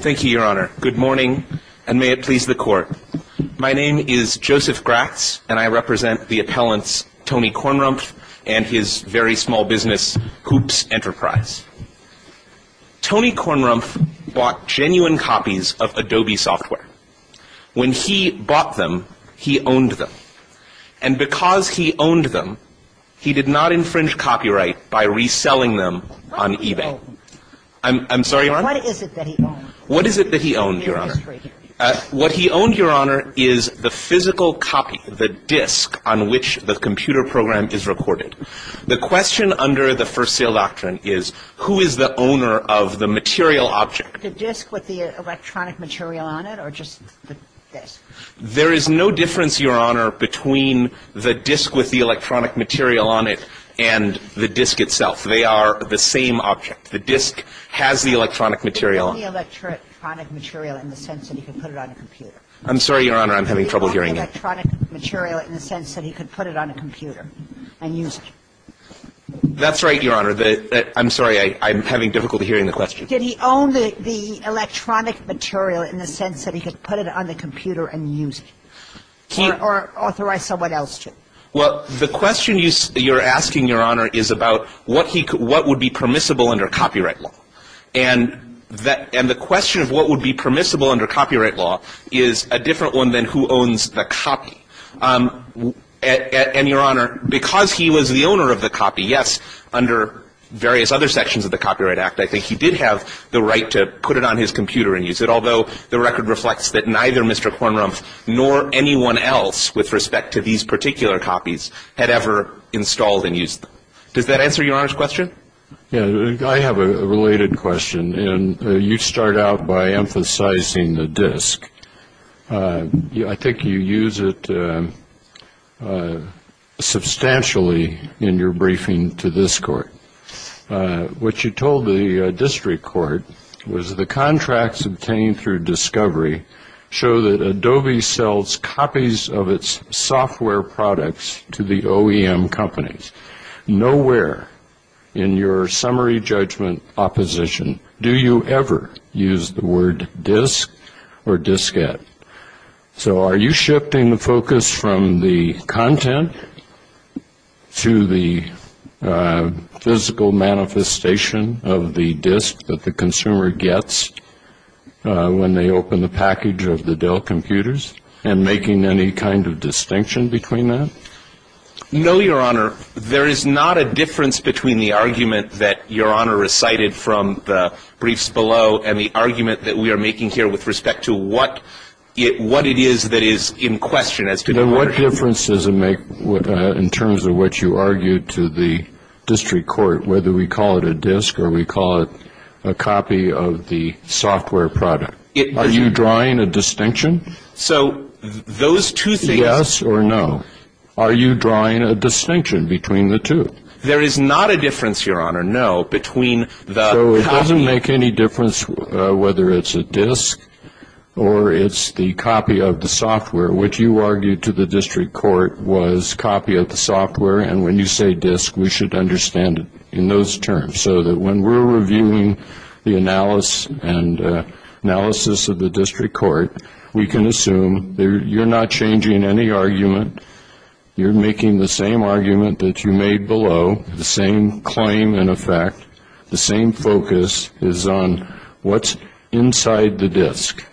Thank you, Your Honor. Good morning, and may it please the Court. My name is Joseph Gratz, and I represent the appellants Tony Kornrumpf and his very small business, Hoops Enterprise. Tony Kornrumpf bought genuine copies of Adobe software. When he bought them, he owned them. And because he owned them, he did not infringe copyright by reselling them on eBay. I'm sorry, Your Honor? What is it that he owned? What is it that he owned, Your Honor? What he owned, Your Honor, is the physical copy, the disk on which the computer program is recorded. The question under the first sale doctrine is, who is the owner of the material object? The disk with the electronic material on it, or just the disk? There is no difference, Your Honor, between the disk with the electronic material on it and the disk itself. They are the same object. The disk has the electronic material on it. He owned the electronic material in the sense that he could put it on a computer. I'm sorry, Your Honor. I'm having trouble hearing you. He owned the electronic material in the sense that he could put it on a computer and use it. That's right, Your Honor. I'm sorry. I'm having difficulty hearing the question. Did he own the electronic material in the sense that he could put it on the computer and use it, or authorize someone else to? Well, the question you're asking, Your Honor, is about what would be permissible under copyright law. And the question of what would be permissible under copyright law is a different one than who owns the copy. And, Your Honor, because he was the owner of the copy, yes, under various other sections of the Copyright Act, I think he did have the right to put it on his computer and use it, although the record reflects that neither Mr. Kornrumpf nor anyone else with respect to these particular copies had ever installed and used them. Does that answer Your Honor's question? Yes. I have a related question. And you start out by emphasizing the disk. I think you use it substantially in your briefing to this Court. What you told the district court was the contracts obtained through discovery show that Adobe sells copies of its software products to the OEM companies. Nowhere in your summary judgment opposition do you ever use the word disk or diskette. So are you shifting the focus from the content to the physical manifestation of the disk that the consumer gets when they open the package of the Dell computers and making any kind of distinction between that? No, Your Honor. There is not a difference between the argument that Your Honor recited from the briefs below and the argument that we are making here with respect to what it is that is in question as to copyright. Then what difference does it make in terms of what you argued to the district court, whether we call it a disk or we call it a copy of the software product? Are you drawing a distinction? So those two things... Yes or no? Are you drawing a distinction between the two? There is not a difference, Your Honor, no, between the copy... So it doesn't make any difference whether it's a disk or it's the copy of the software. What you argued to the district court was copy of the software, and when you say disk, we should understand it in those terms so that when we're reviewing the analysis of the district court, we can assume you're not changing any argument. You're making the same argument that you made below, the same claim and effect, the same focus is on what's inside the disk.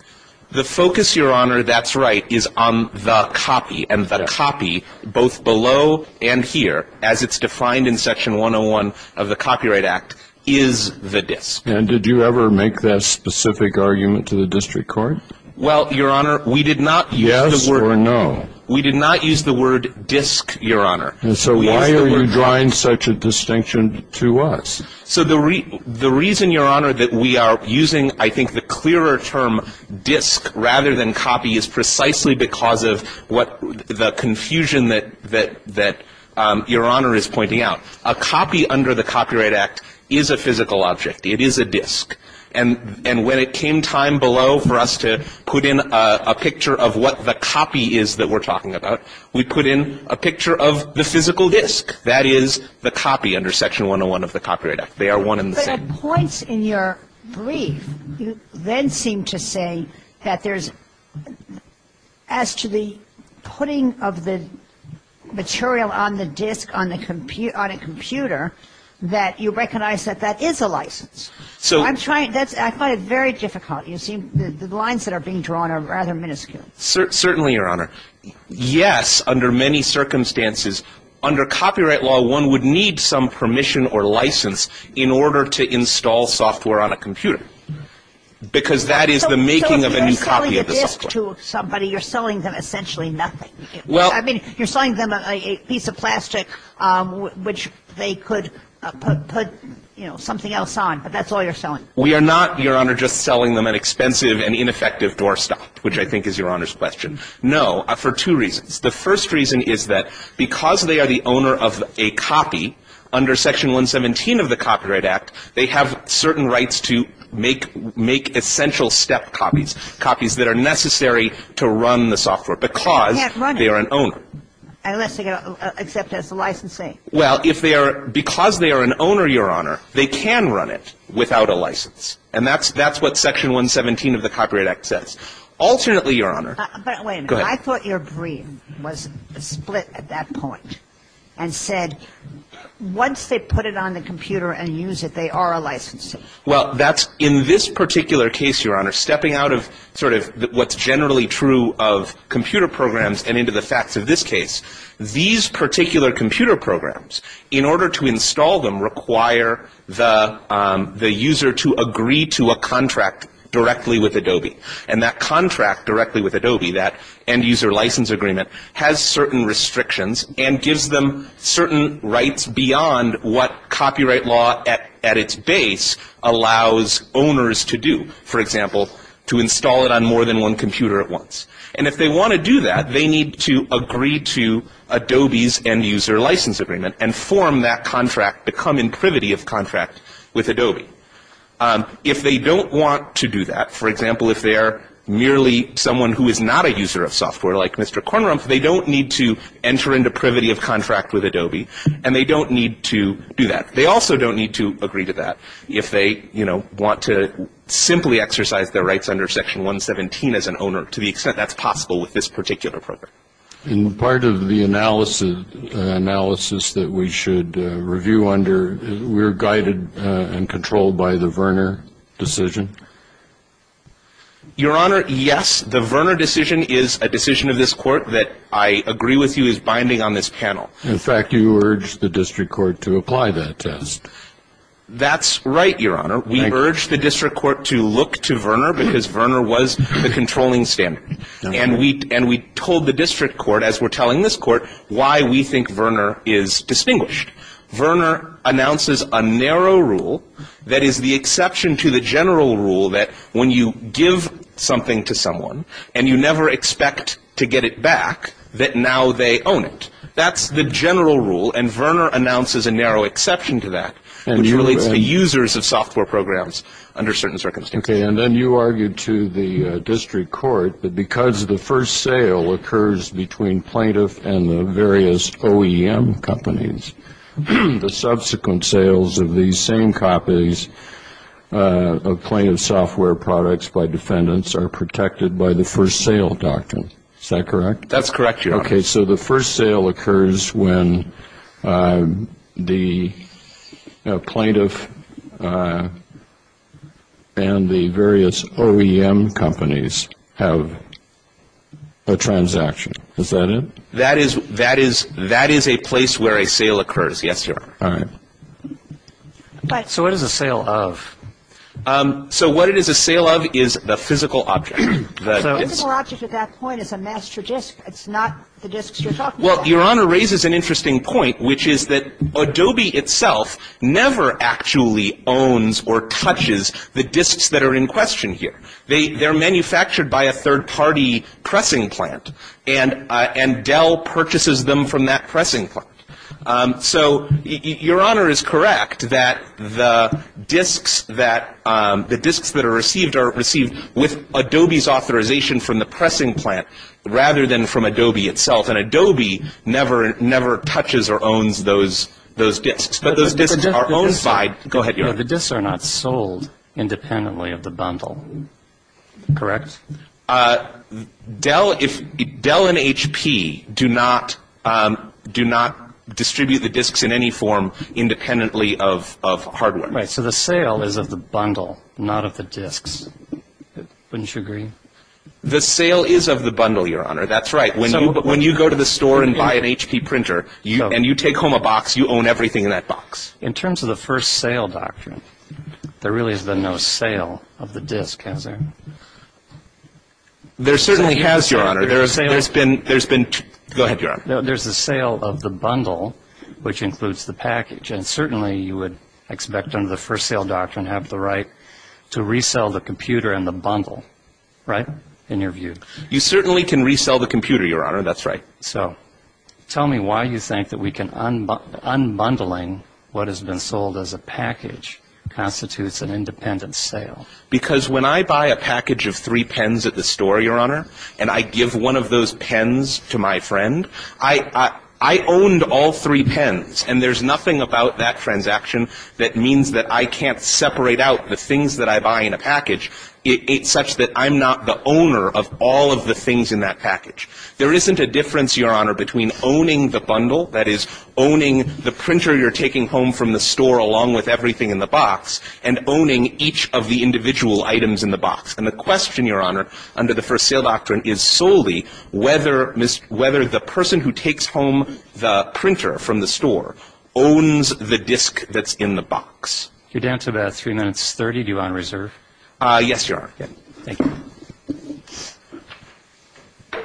The focus, Your Honor, that's right, is on the copy, and the copy, both below and here, as it's defined in Section 101 of the Copyright Act, is the disk. And did you ever make that specific argument to the district court? Well, Your Honor, we did not use the word... Yes or no? We did not use the word disk, Your Honor. So why are you drawing such a distinction to us? So the reason, Your Honor, that we are using, I think, the clearer term disk rather than copy is precisely because of the confusion that Your Honor is pointing out. A copy under the Copyright Act is a physical object. It is a disk. And when it came time below for us to put in a picture of what the copy is that we're talking about, we put in a picture of the physical disk. That is the copy under Section 101 of the Copyright Act. They are one and the same. But at points in your brief, you then seem to say that there's, as to the putting of the material on the disk on a computer, that you recognize that that is a license. I find it very difficult. The lines that are being drawn are rather minuscule. Certainly, Your Honor. Yes, under many circumstances, under copyright law, one would need some permission or license in order to install software on a computer because that is the making of a new copy of the software. So if you're selling a disk to somebody, you're selling them essentially nothing. I mean, you're selling them a piece of plastic which they could put something else on, but that's all you're selling. We are not, Your Honor, just selling them an expensive and ineffective doorstop, which I think is Your Honor's question. No, for two reasons. The first reason is that because they are the owner of a copy under Section 117 of the Copyright Act, they have certain rights to make essential step copies, copies that are necessary to run the software, because they are an owner. Unless they get accepted as a licensee. Well, if they are, because they are an owner, Your Honor, they can run it without a license. And that's what Section 117 of the Copyright Act says. Alternately, Your Honor. But wait a minute. Go ahead. I thought your brief was split at that point and said once they put it on the computer and use it, they are a licensee. Well, that's in this particular case, Your Honor, stepping out of sort of what's generally true of computer programs and into the facts of this case. These particular computer programs, in order to install them, require the user to agree to a contract directly with Adobe. And that contract directly with Adobe, that end user license agreement, has certain restrictions and gives them certain rights beyond what copyright law at its base allows owners to do. For example, to install it on more than one computer at once. And if they want to do that, they need to agree to Adobe's end user license agreement and form that contract to come in privity of contract with Adobe. If they don't want to do that, for example, if they are merely someone who is not a user of software like Mr. Kornrump, they don't need to enter into privity of contract with Adobe and they don't need to do that. They also don't need to agree to that if they, you know, want to simply exercise their rights under Section 117 as an owner. To the extent that's possible with this particular program. In part of the analysis that we should review under, we're guided and controlled by the Verner decision? Your Honor, yes. The Verner decision is a decision of this Court that I agree with you is binding on this panel. In fact, you urge the district court to apply that test. That's right, Your Honor. We urge the district court to look to Verner because Verner was the controlling standard. And we told the district court, as we're telling this court, why we think Verner is distinguished. Verner announces a narrow rule that is the exception to the general rule that when you give something to someone and you never expect to get it back, that now they own it. That's the general rule and Verner announces a narrow exception to that. Which relates to users of software programs under certain circumstances. And then you argued to the district court that because the first sale occurs between plaintiff and the various OEM companies, the subsequent sales of these same copies of plaintiff software products by defendants are protected by the first sale doctrine. That's correct, Your Honor. Okay. So the first sale occurs when the plaintiff and the various OEM companies have a transaction. Is that it? That is a place where a sale occurs, yes, Your Honor. All right. So what is a sale of? So what it is a sale of is the physical object. The physical object at that point is a master disk. It's not the disks you're talking about. Well, Your Honor raises an interesting point, which is that Adobe itself never actually owns or touches the disks that are in question here. They're manufactured by a third-party pressing plant and Dell purchases them from that pressing plant. So Your Honor is correct that the disks that are received are received with Adobe's authorization from the pressing plant rather than from Adobe itself. And Adobe never touches or owns those disks. But those disks are owned by — go ahead, Your Honor. The disks are not sold independently of the bundle. Correct? Dell and HP do not distribute the disks in any form independently of hardware. Right. So the sale is of the bundle, not of the disks. Wouldn't you agree? The sale is of the bundle, Your Honor. That's right. When you go to the store and buy an HP printer and you take home a box, you own everything in that box. In terms of the first sale doctrine, there really has been no sale of the disk, has there? There certainly has, Your Honor. There's been — go ahead, Your Honor. There's a sale of the bundle, which includes the package. And certainly you would expect under the first sale doctrine to have the right to resell the computer and the bundle. Right? In your view. You certainly can resell the computer, Your Honor. That's right. So tell me why you think that we can — unbundling what has been sold as a package constitutes an independent sale. Because when I buy a package of three pens at the store, Your Honor, and I give one of those pens to my friend, I owned all three pens. And there's nothing about that transaction that means that I can't separate out the things that I buy in a package, such that I'm not the owner of all of the things in that package. There isn't a difference, Your Honor, between owning the bundle, that is, owning the printer you're taking home from the store along with everything in the box, and owning each of the individual items in the box. And the question, Your Honor, under the first sale doctrine is solely whether — whether the person who takes home the printer from the store owns the disk that's in the box. You're down to about 3 minutes 30. Do you want to reserve? Yes, Your Honor. Thank you. And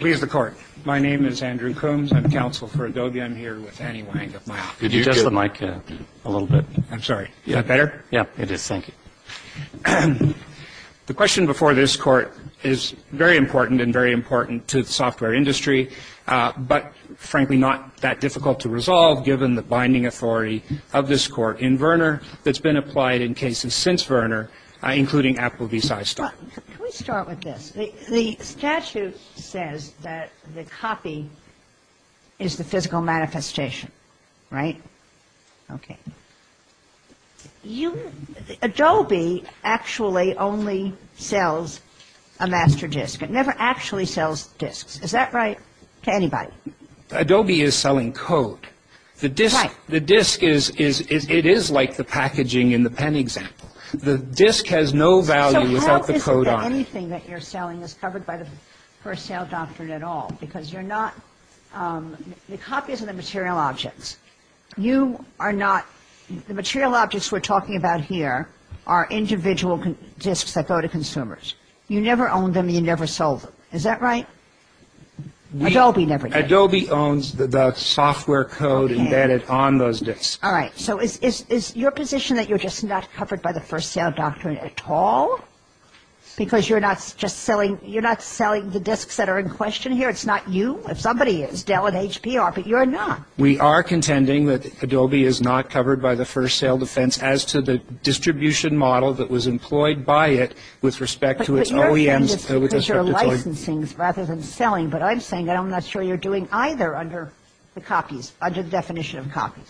please, the Court. My name is Andrew Coombs. I'm counsel for Adobe. I'm here with Annie Wang of my office. Could you adjust the mic a little bit? I'm sorry. Is that better? Yeah, it is. Thank you. The question before this Court is very important and very important to the software industry, but, frankly, not that difficult to resolve, given the binding authority of this Court in Verner that's been applied in cases since Verner, including Apple v. Sistar. Can we start with this? The statute says that the copy is the physical manifestation, right? Okay. Adobe actually only sells a master disk. It never actually sells disks. Is that right to anybody? Adobe is selling code. Right. The disk is like the packaging in the pen example. The disk has no value without the code on it. So how is it that anything that you're selling is covered by the first sale doctrine at all? Because you're not – the copies are the material objects. You are not – the material objects we're talking about here are individual disks that go to consumers. You never own them. You never sold them. Is that right? Adobe never did. Adobe owns the software code embedded on those disks. All right. So is your position that you're just not covered by the first sale doctrine at all? Because you're not just selling – you're not selling the disks that are in question here? It's not you? If somebody is, Dell and HP are, but you're not. We are contending that Adobe is not covered by the first sale defense as to the distribution model that was employed by it with respect to its OEMs. I'm not sure you're doing either under the copies – under the definition of copies.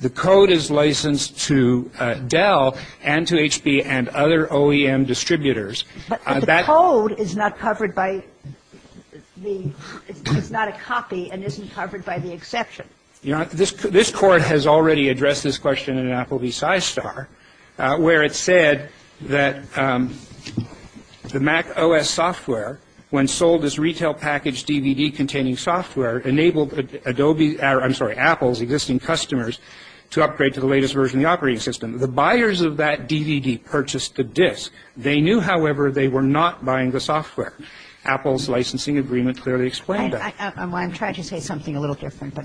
The code is licensed to Dell and to HP and other OEM distributors. But the code is not covered by the – it's not a copy and isn't covered by the exception. This Court has already addressed this question in Apple v. Scistar, where it said that the Mac OS software, when sold as retail package DVD-containing software, enabled Adobe – I'm sorry, Apple's existing customers to upgrade to the latest version of the operating system. The buyers of that DVD purchased the disk. They knew, however, they were not buying the software. Apple's licensing agreement clearly explained that. I'm trying to say something a little different.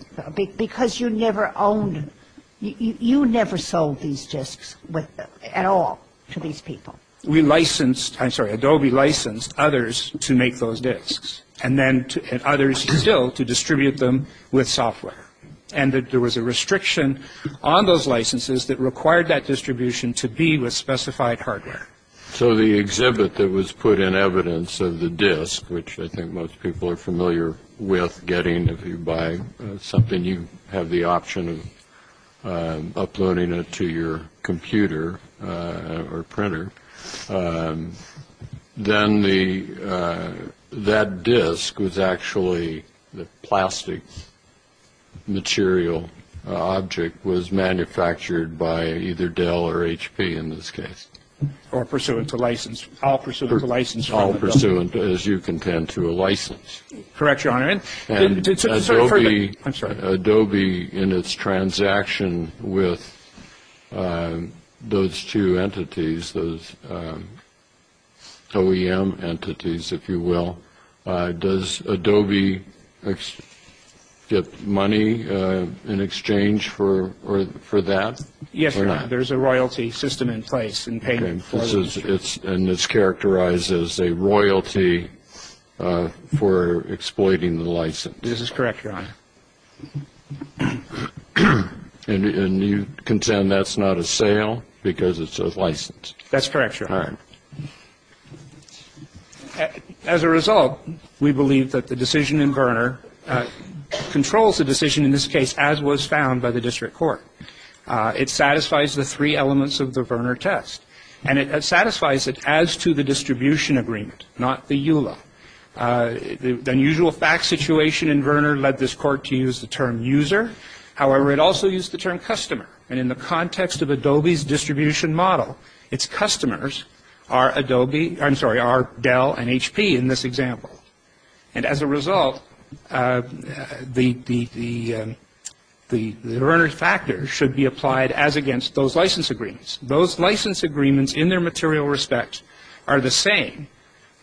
Because you never owned – you never sold these disks at all to these people. We licensed – I'm sorry, Adobe licensed others to make those disks and then – and others still to distribute them with software. And there was a restriction on those licenses that required that distribution to be with specified hardware. So the exhibit that was put in evidence of the disk, which I think most people are familiar with getting if you buy something, you have the option of uploading it to your computer or printer. Then that disk was actually – the plastic material object was manufactured by either Dell or HP in this case. Or pursuant to license. All pursuant to license. All pursuant, as you contend, to a license. Correct, Your Honor. And Adobe in its transaction with those two entities, those OEM entities, if you will, does Adobe get money in exchange for that? Yes, Your Honor. There's a royalty system in place. And this characterizes a royalty for exploiting the license. This is correct, Your Honor. And you contend that's not a sale because it's a license? That's correct, Your Honor. All right. As a result, we believe that the decision in Verner controls the decision in this case as was found by the district court. It satisfies the three elements of the Verner test. And it satisfies it as to the distribution agreement, not the EULA. The unusual fact situation in Verner led this court to use the term user. However, it also used the term customer. And in the context of Adobe's distribution model, its customers are Adobe – I'm sorry, are Dell and HP in this example. And as a result, the Verner factor should be applied as against those license agreements. Those license agreements in their material respect are the same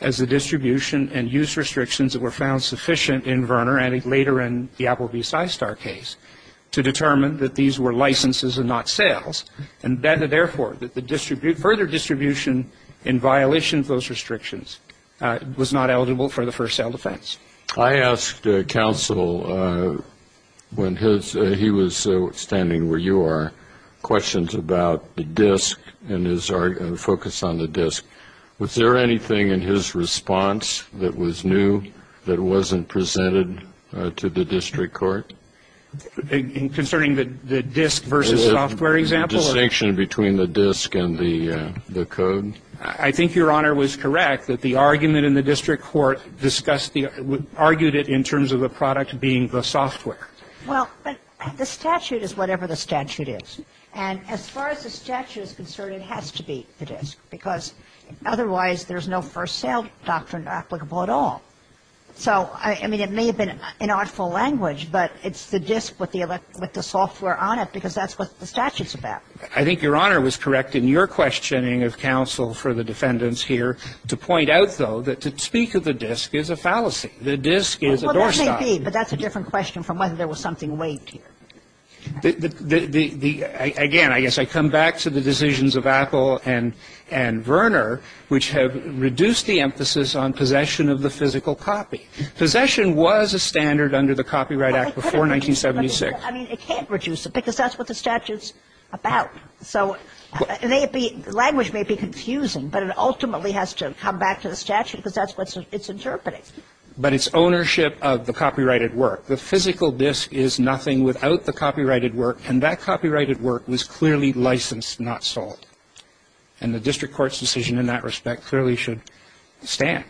as the distribution and use restrictions that were found sufficient in Verner and later in the Applebee's iStar case to determine that these were licenses and not sales. And therefore, the further distribution in violation of those restrictions was not eligible for the first sale defense. I asked counsel when he was standing where you are questions about the disk and his focus on the disk. Was there anything in his response that was new that wasn't presented to the district court? In concerning the disk versus software example? The distinction between the disk and the code? I think Your Honor was correct that the argument in the district court discussed the – argued it in terms of the product being the software. Well, the statute is whatever the statute is. And as far as the statute is concerned, it has to be the disk because otherwise there's no first sale doctrine applicable at all. So, I mean, it may have been an awful language, but it's the disk with the software on it because that's what the statute's about. I think Your Honor was correct in your questioning of counsel for the defendants here to point out, though, that to speak of the disk is a fallacy. The disk is a doorstop. Well, that may be, but that's a different question from whether there was something waived here. Again, I guess I come back to the decisions of Apple and Verner, which have reduced the emphasis on possession of the physical copy. Possession was a standard under the Copyright Act before 1976. I mean, it can't reduce it because that's what the statute's about. So language may be confusing, but it ultimately has to come back to the statute because that's what it's interpreting. But it's ownership of the copyrighted work. The physical disk is nothing without the copyrighted work, and that copyrighted work was clearly licensed, not sold. And the district court's decision in that respect clearly should stand.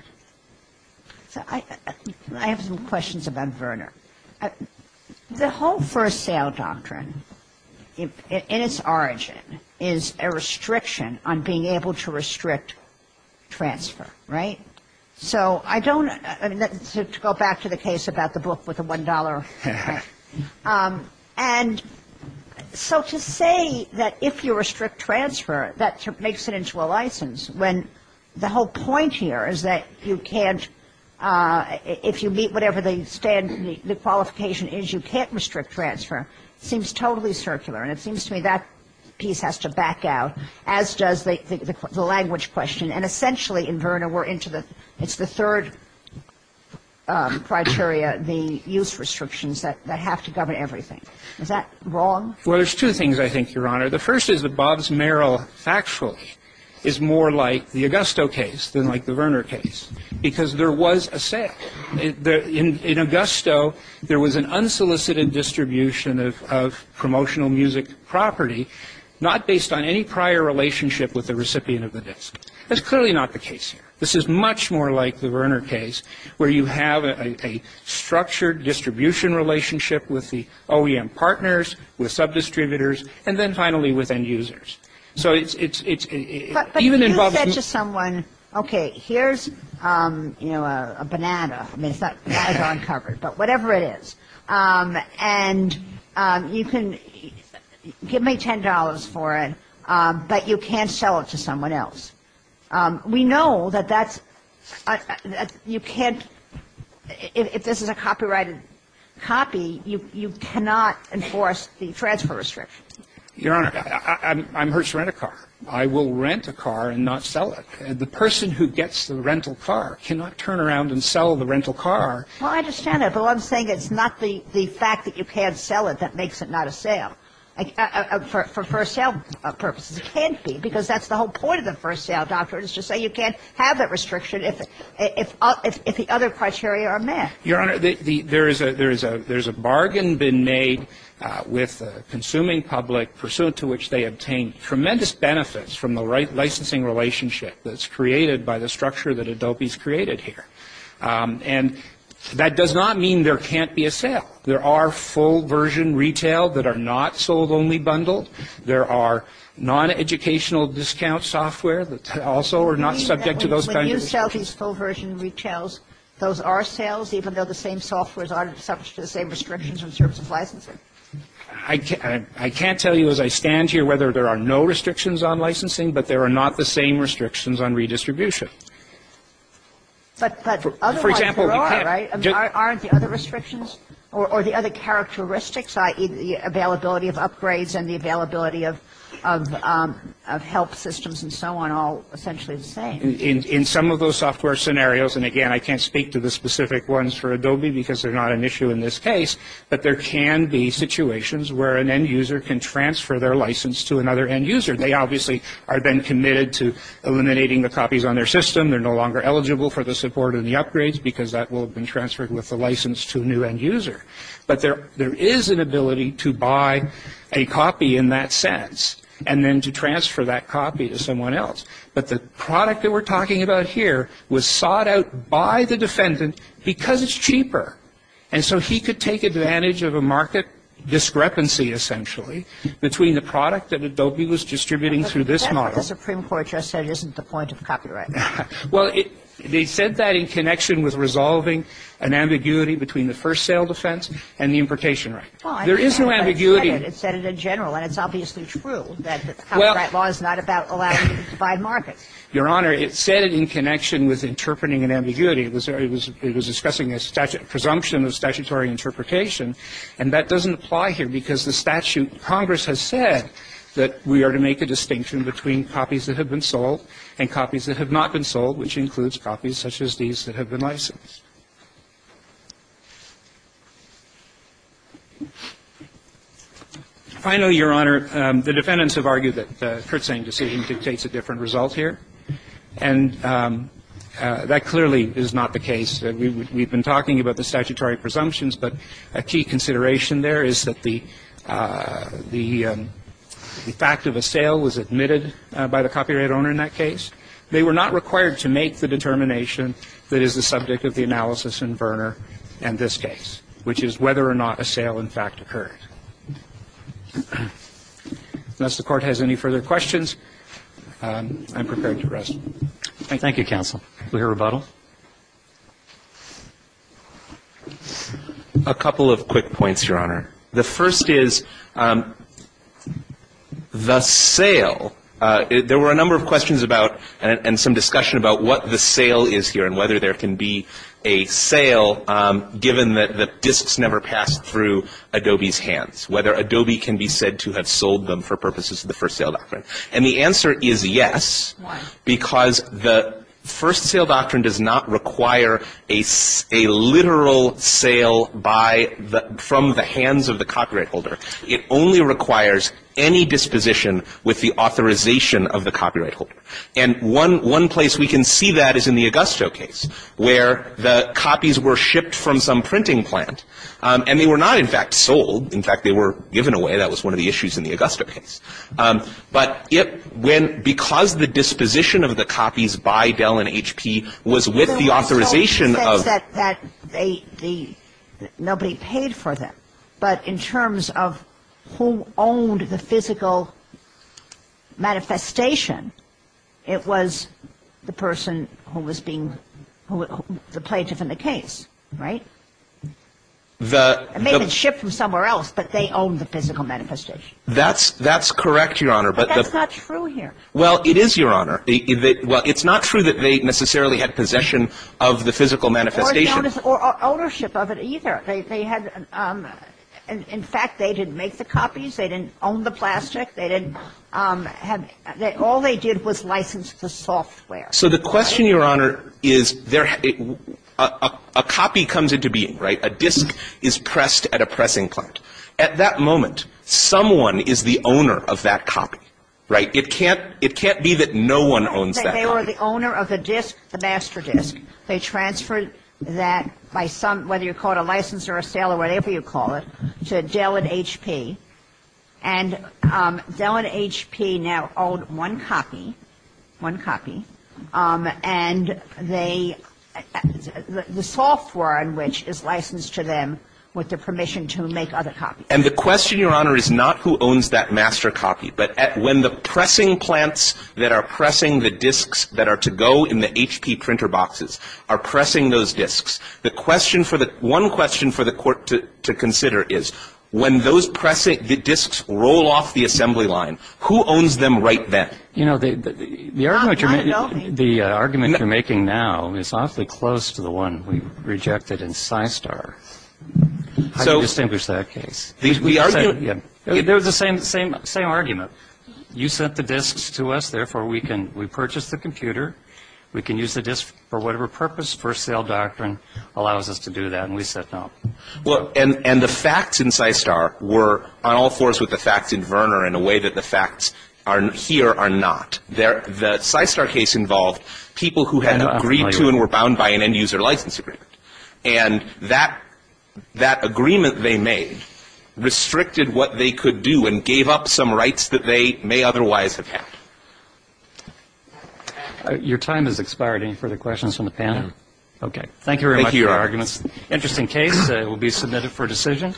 I have some questions about Verner. The whole first sale doctrine, in its origin, is a restriction on being able to restrict transfer, right? So I don't go back to the case about the book with the $1. And so to say that if you restrict transfer, that makes it into a license, when the whole point here is that you can't, if you meet whatever the qualification is, you can't restrict transfer, seems totally circular. And it seems to me that piece has to back out, as does the language question. And essentially, in Verner, we're into the, it's the third criteria, the use of the word, the use of the word, the use of the word. It's a question of a list of restrictions that have to govern everything. Is that wrong? Well, there's two things, I think, Your Honor. The first is that Bob's Merrill, factually, is more like the Augusto case than like the Verner case, because there was a set. In Augusto, there was an unsolicited distribution of promotional music property, not based on any prior relationship with the recipient of the disk. That's clearly not the case here. This is much more like the Verner case, where you have a structured distribution relationship with the OEM partners, with sub-distributors, and then, finally, with end users. But you said to someone, okay, here's a banana. I mean, it's not uncovered, but whatever it is. And you can give me $10 for it, but you can't sell it to someone else. We know that that's you can't, if this is a copyrighted copy, you cannot enforce the transfer restriction. Your Honor, I'm hurt to rent a car. I will rent a car and not sell it. The person who gets the rental car cannot turn around and sell the rental car. Well, I understand that. But what I'm saying, it's not the fact that you can't sell it that makes it not a sale. For sale purposes, it can't be, because that's the whole point of the first sale doctrine, is to say you can't have that restriction if the other criteria are met. Your Honor, there's a bargain been made with the consuming public, pursuant to which they obtain tremendous benefits from the licensing relationship that's created by the structure that Adobe's created here. And that does not mean there can't be a sale. There are full-version retail that are not sold only bundled. There are non-educational discount software that also are not subject to those kinds of restrictions. When you sell these full-version retails, those are sales, even though the same softwares are subject to the same restrictions in terms of licensing? I can't tell you as I stand here whether there are no restrictions on licensing, but there are not the same restrictions on redistribution. But otherwise there are, right? Aren't the other restrictions or the other characteristics, i.e., the availability of upgrades and the availability of help systems and so on, all essentially the same? In some of those software scenarios, and again, I can't speak to the specific ones for Adobe because they're not an issue in this case, but there can be situations where an end user can transfer their license to another end user. They obviously have been committed to eliminating the copies on their system. They're no longer eligible for the support and the upgrades because that will have been transferred with the license to a new end user. But there is an ability to buy a copy in that sense and then to transfer that copy to someone else. But the product that we're talking about here was sought out by the defendant because it's cheaper. And so there is an ambiguity between the product that Adobe was distributing through this model. But the Supreme Court just said it isn't the point of copyright. Well, they said that in connection with resolving an ambiguity between the first sale defense and the imprecation right. There is no ambiguity. Well, I said it. It said it in general, and it's obviously true that the copyright law is not about allowing you to divide markets. Your Honor, it said it in connection with interpreting an ambiguity. It was discussing a presumption of statutory interpretation, and that doesn't apply here because the statute in Congress has said that we are to make a distinction between copies that have been sold and copies that have not been sold, which includes copies such as these that have been licensed. Finally, Your Honor, the defendants have argued that the Kurtzain decision dictates a different result here. And that clearly is not the case. We've been talking about the statutory presumptions, but a key consideration there is that the fact of a sale was admitted by the copyright owner in that case. They were not required to make the determination that is the subject of the analysis in Verner and this case, which is whether or not a sale in fact occurred. Unless the Court has any further questions, I'm prepared to rest. Thank you. Thank you, counsel. Do we have a rebuttal? A couple of quick points, Your Honor. The first is the sale. There were a number of questions about and some discussion about what the sale is here and whether there can be a sale given that the disks never passed through Adobe's hands, whether Adobe can be said to have sold them for purposes of the first sale doctrine. And the answer is yes. Why? Because the first sale doctrine does not require a literal sale from the hands of the copyright holder. It only requires any disposition with the authorization of the copyright holder. And one place we can see that is in the Augusto case where the copies were shipped from some printing plant, and they were not in fact sold. In fact, they were given away. That was one of the issues in the Augusto case. But because the disposition of the copies by Dell and HP was with the authorization of the – Nobody paid for them. But in terms of who owned the physical manifestation, it was the person who was being – the plaintiff in the case, right? It may have been shipped from somewhere else, but they owned the physical manifestation. That's correct, Your Honor. But that's not true here. Well, it is, Your Honor. Well, it's not true that they necessarily had possession of the physical manifestation. Or ownership of it either. They had – in fact, they didn't make the copies. They didn't own the plastic. They didn't have – all they did was license the software. So the question, Your Honor, is there – a copy comes into being, right? A disk is pressed at a pressing plant. At that moment, someone is the owner of that copy, right? It can't be that no one owns that copy. They were the owner of the disk, the master disk. They transferred that by some – whether you call it a license or a sale or whatever you call it, to Dell and HP. And Dell and HP now own one copy – one copy. And they – the software on which is licensed to them with the permission to make other copies. And the question, Your Honor, is not who owns that master copy. But when the pressing plants that are pressing the disks that are to go in the HP printer boxes are pressing those disks, the question for the – one question for the court to consider is when those pressing – the disks roll off the assembly line, who owns them right then? You know, the argument you're making now is awfully close to the one we rejected in Systar. How do you distinguish that case? The argument – There was the same argument. You sent the disks to us. Therefore, we can – we purchased the computer. We can use the disk for whatever purpose. First sale doctrine allows us to do that. And we said no. Well, and the facts in Systar were on all fours with the facts in Verner in a way that the facts here are not. The Systar case involved people who had agreed to and were bound by an end-user license agreement. And that agreement they made restricted what they could do and gave up some rights that they may otherwise have had. Your time has expired. Any further questions from the panel? Okay. Thank you very much for your arguments. Thank you. Interesting case. It will be submitted for decision.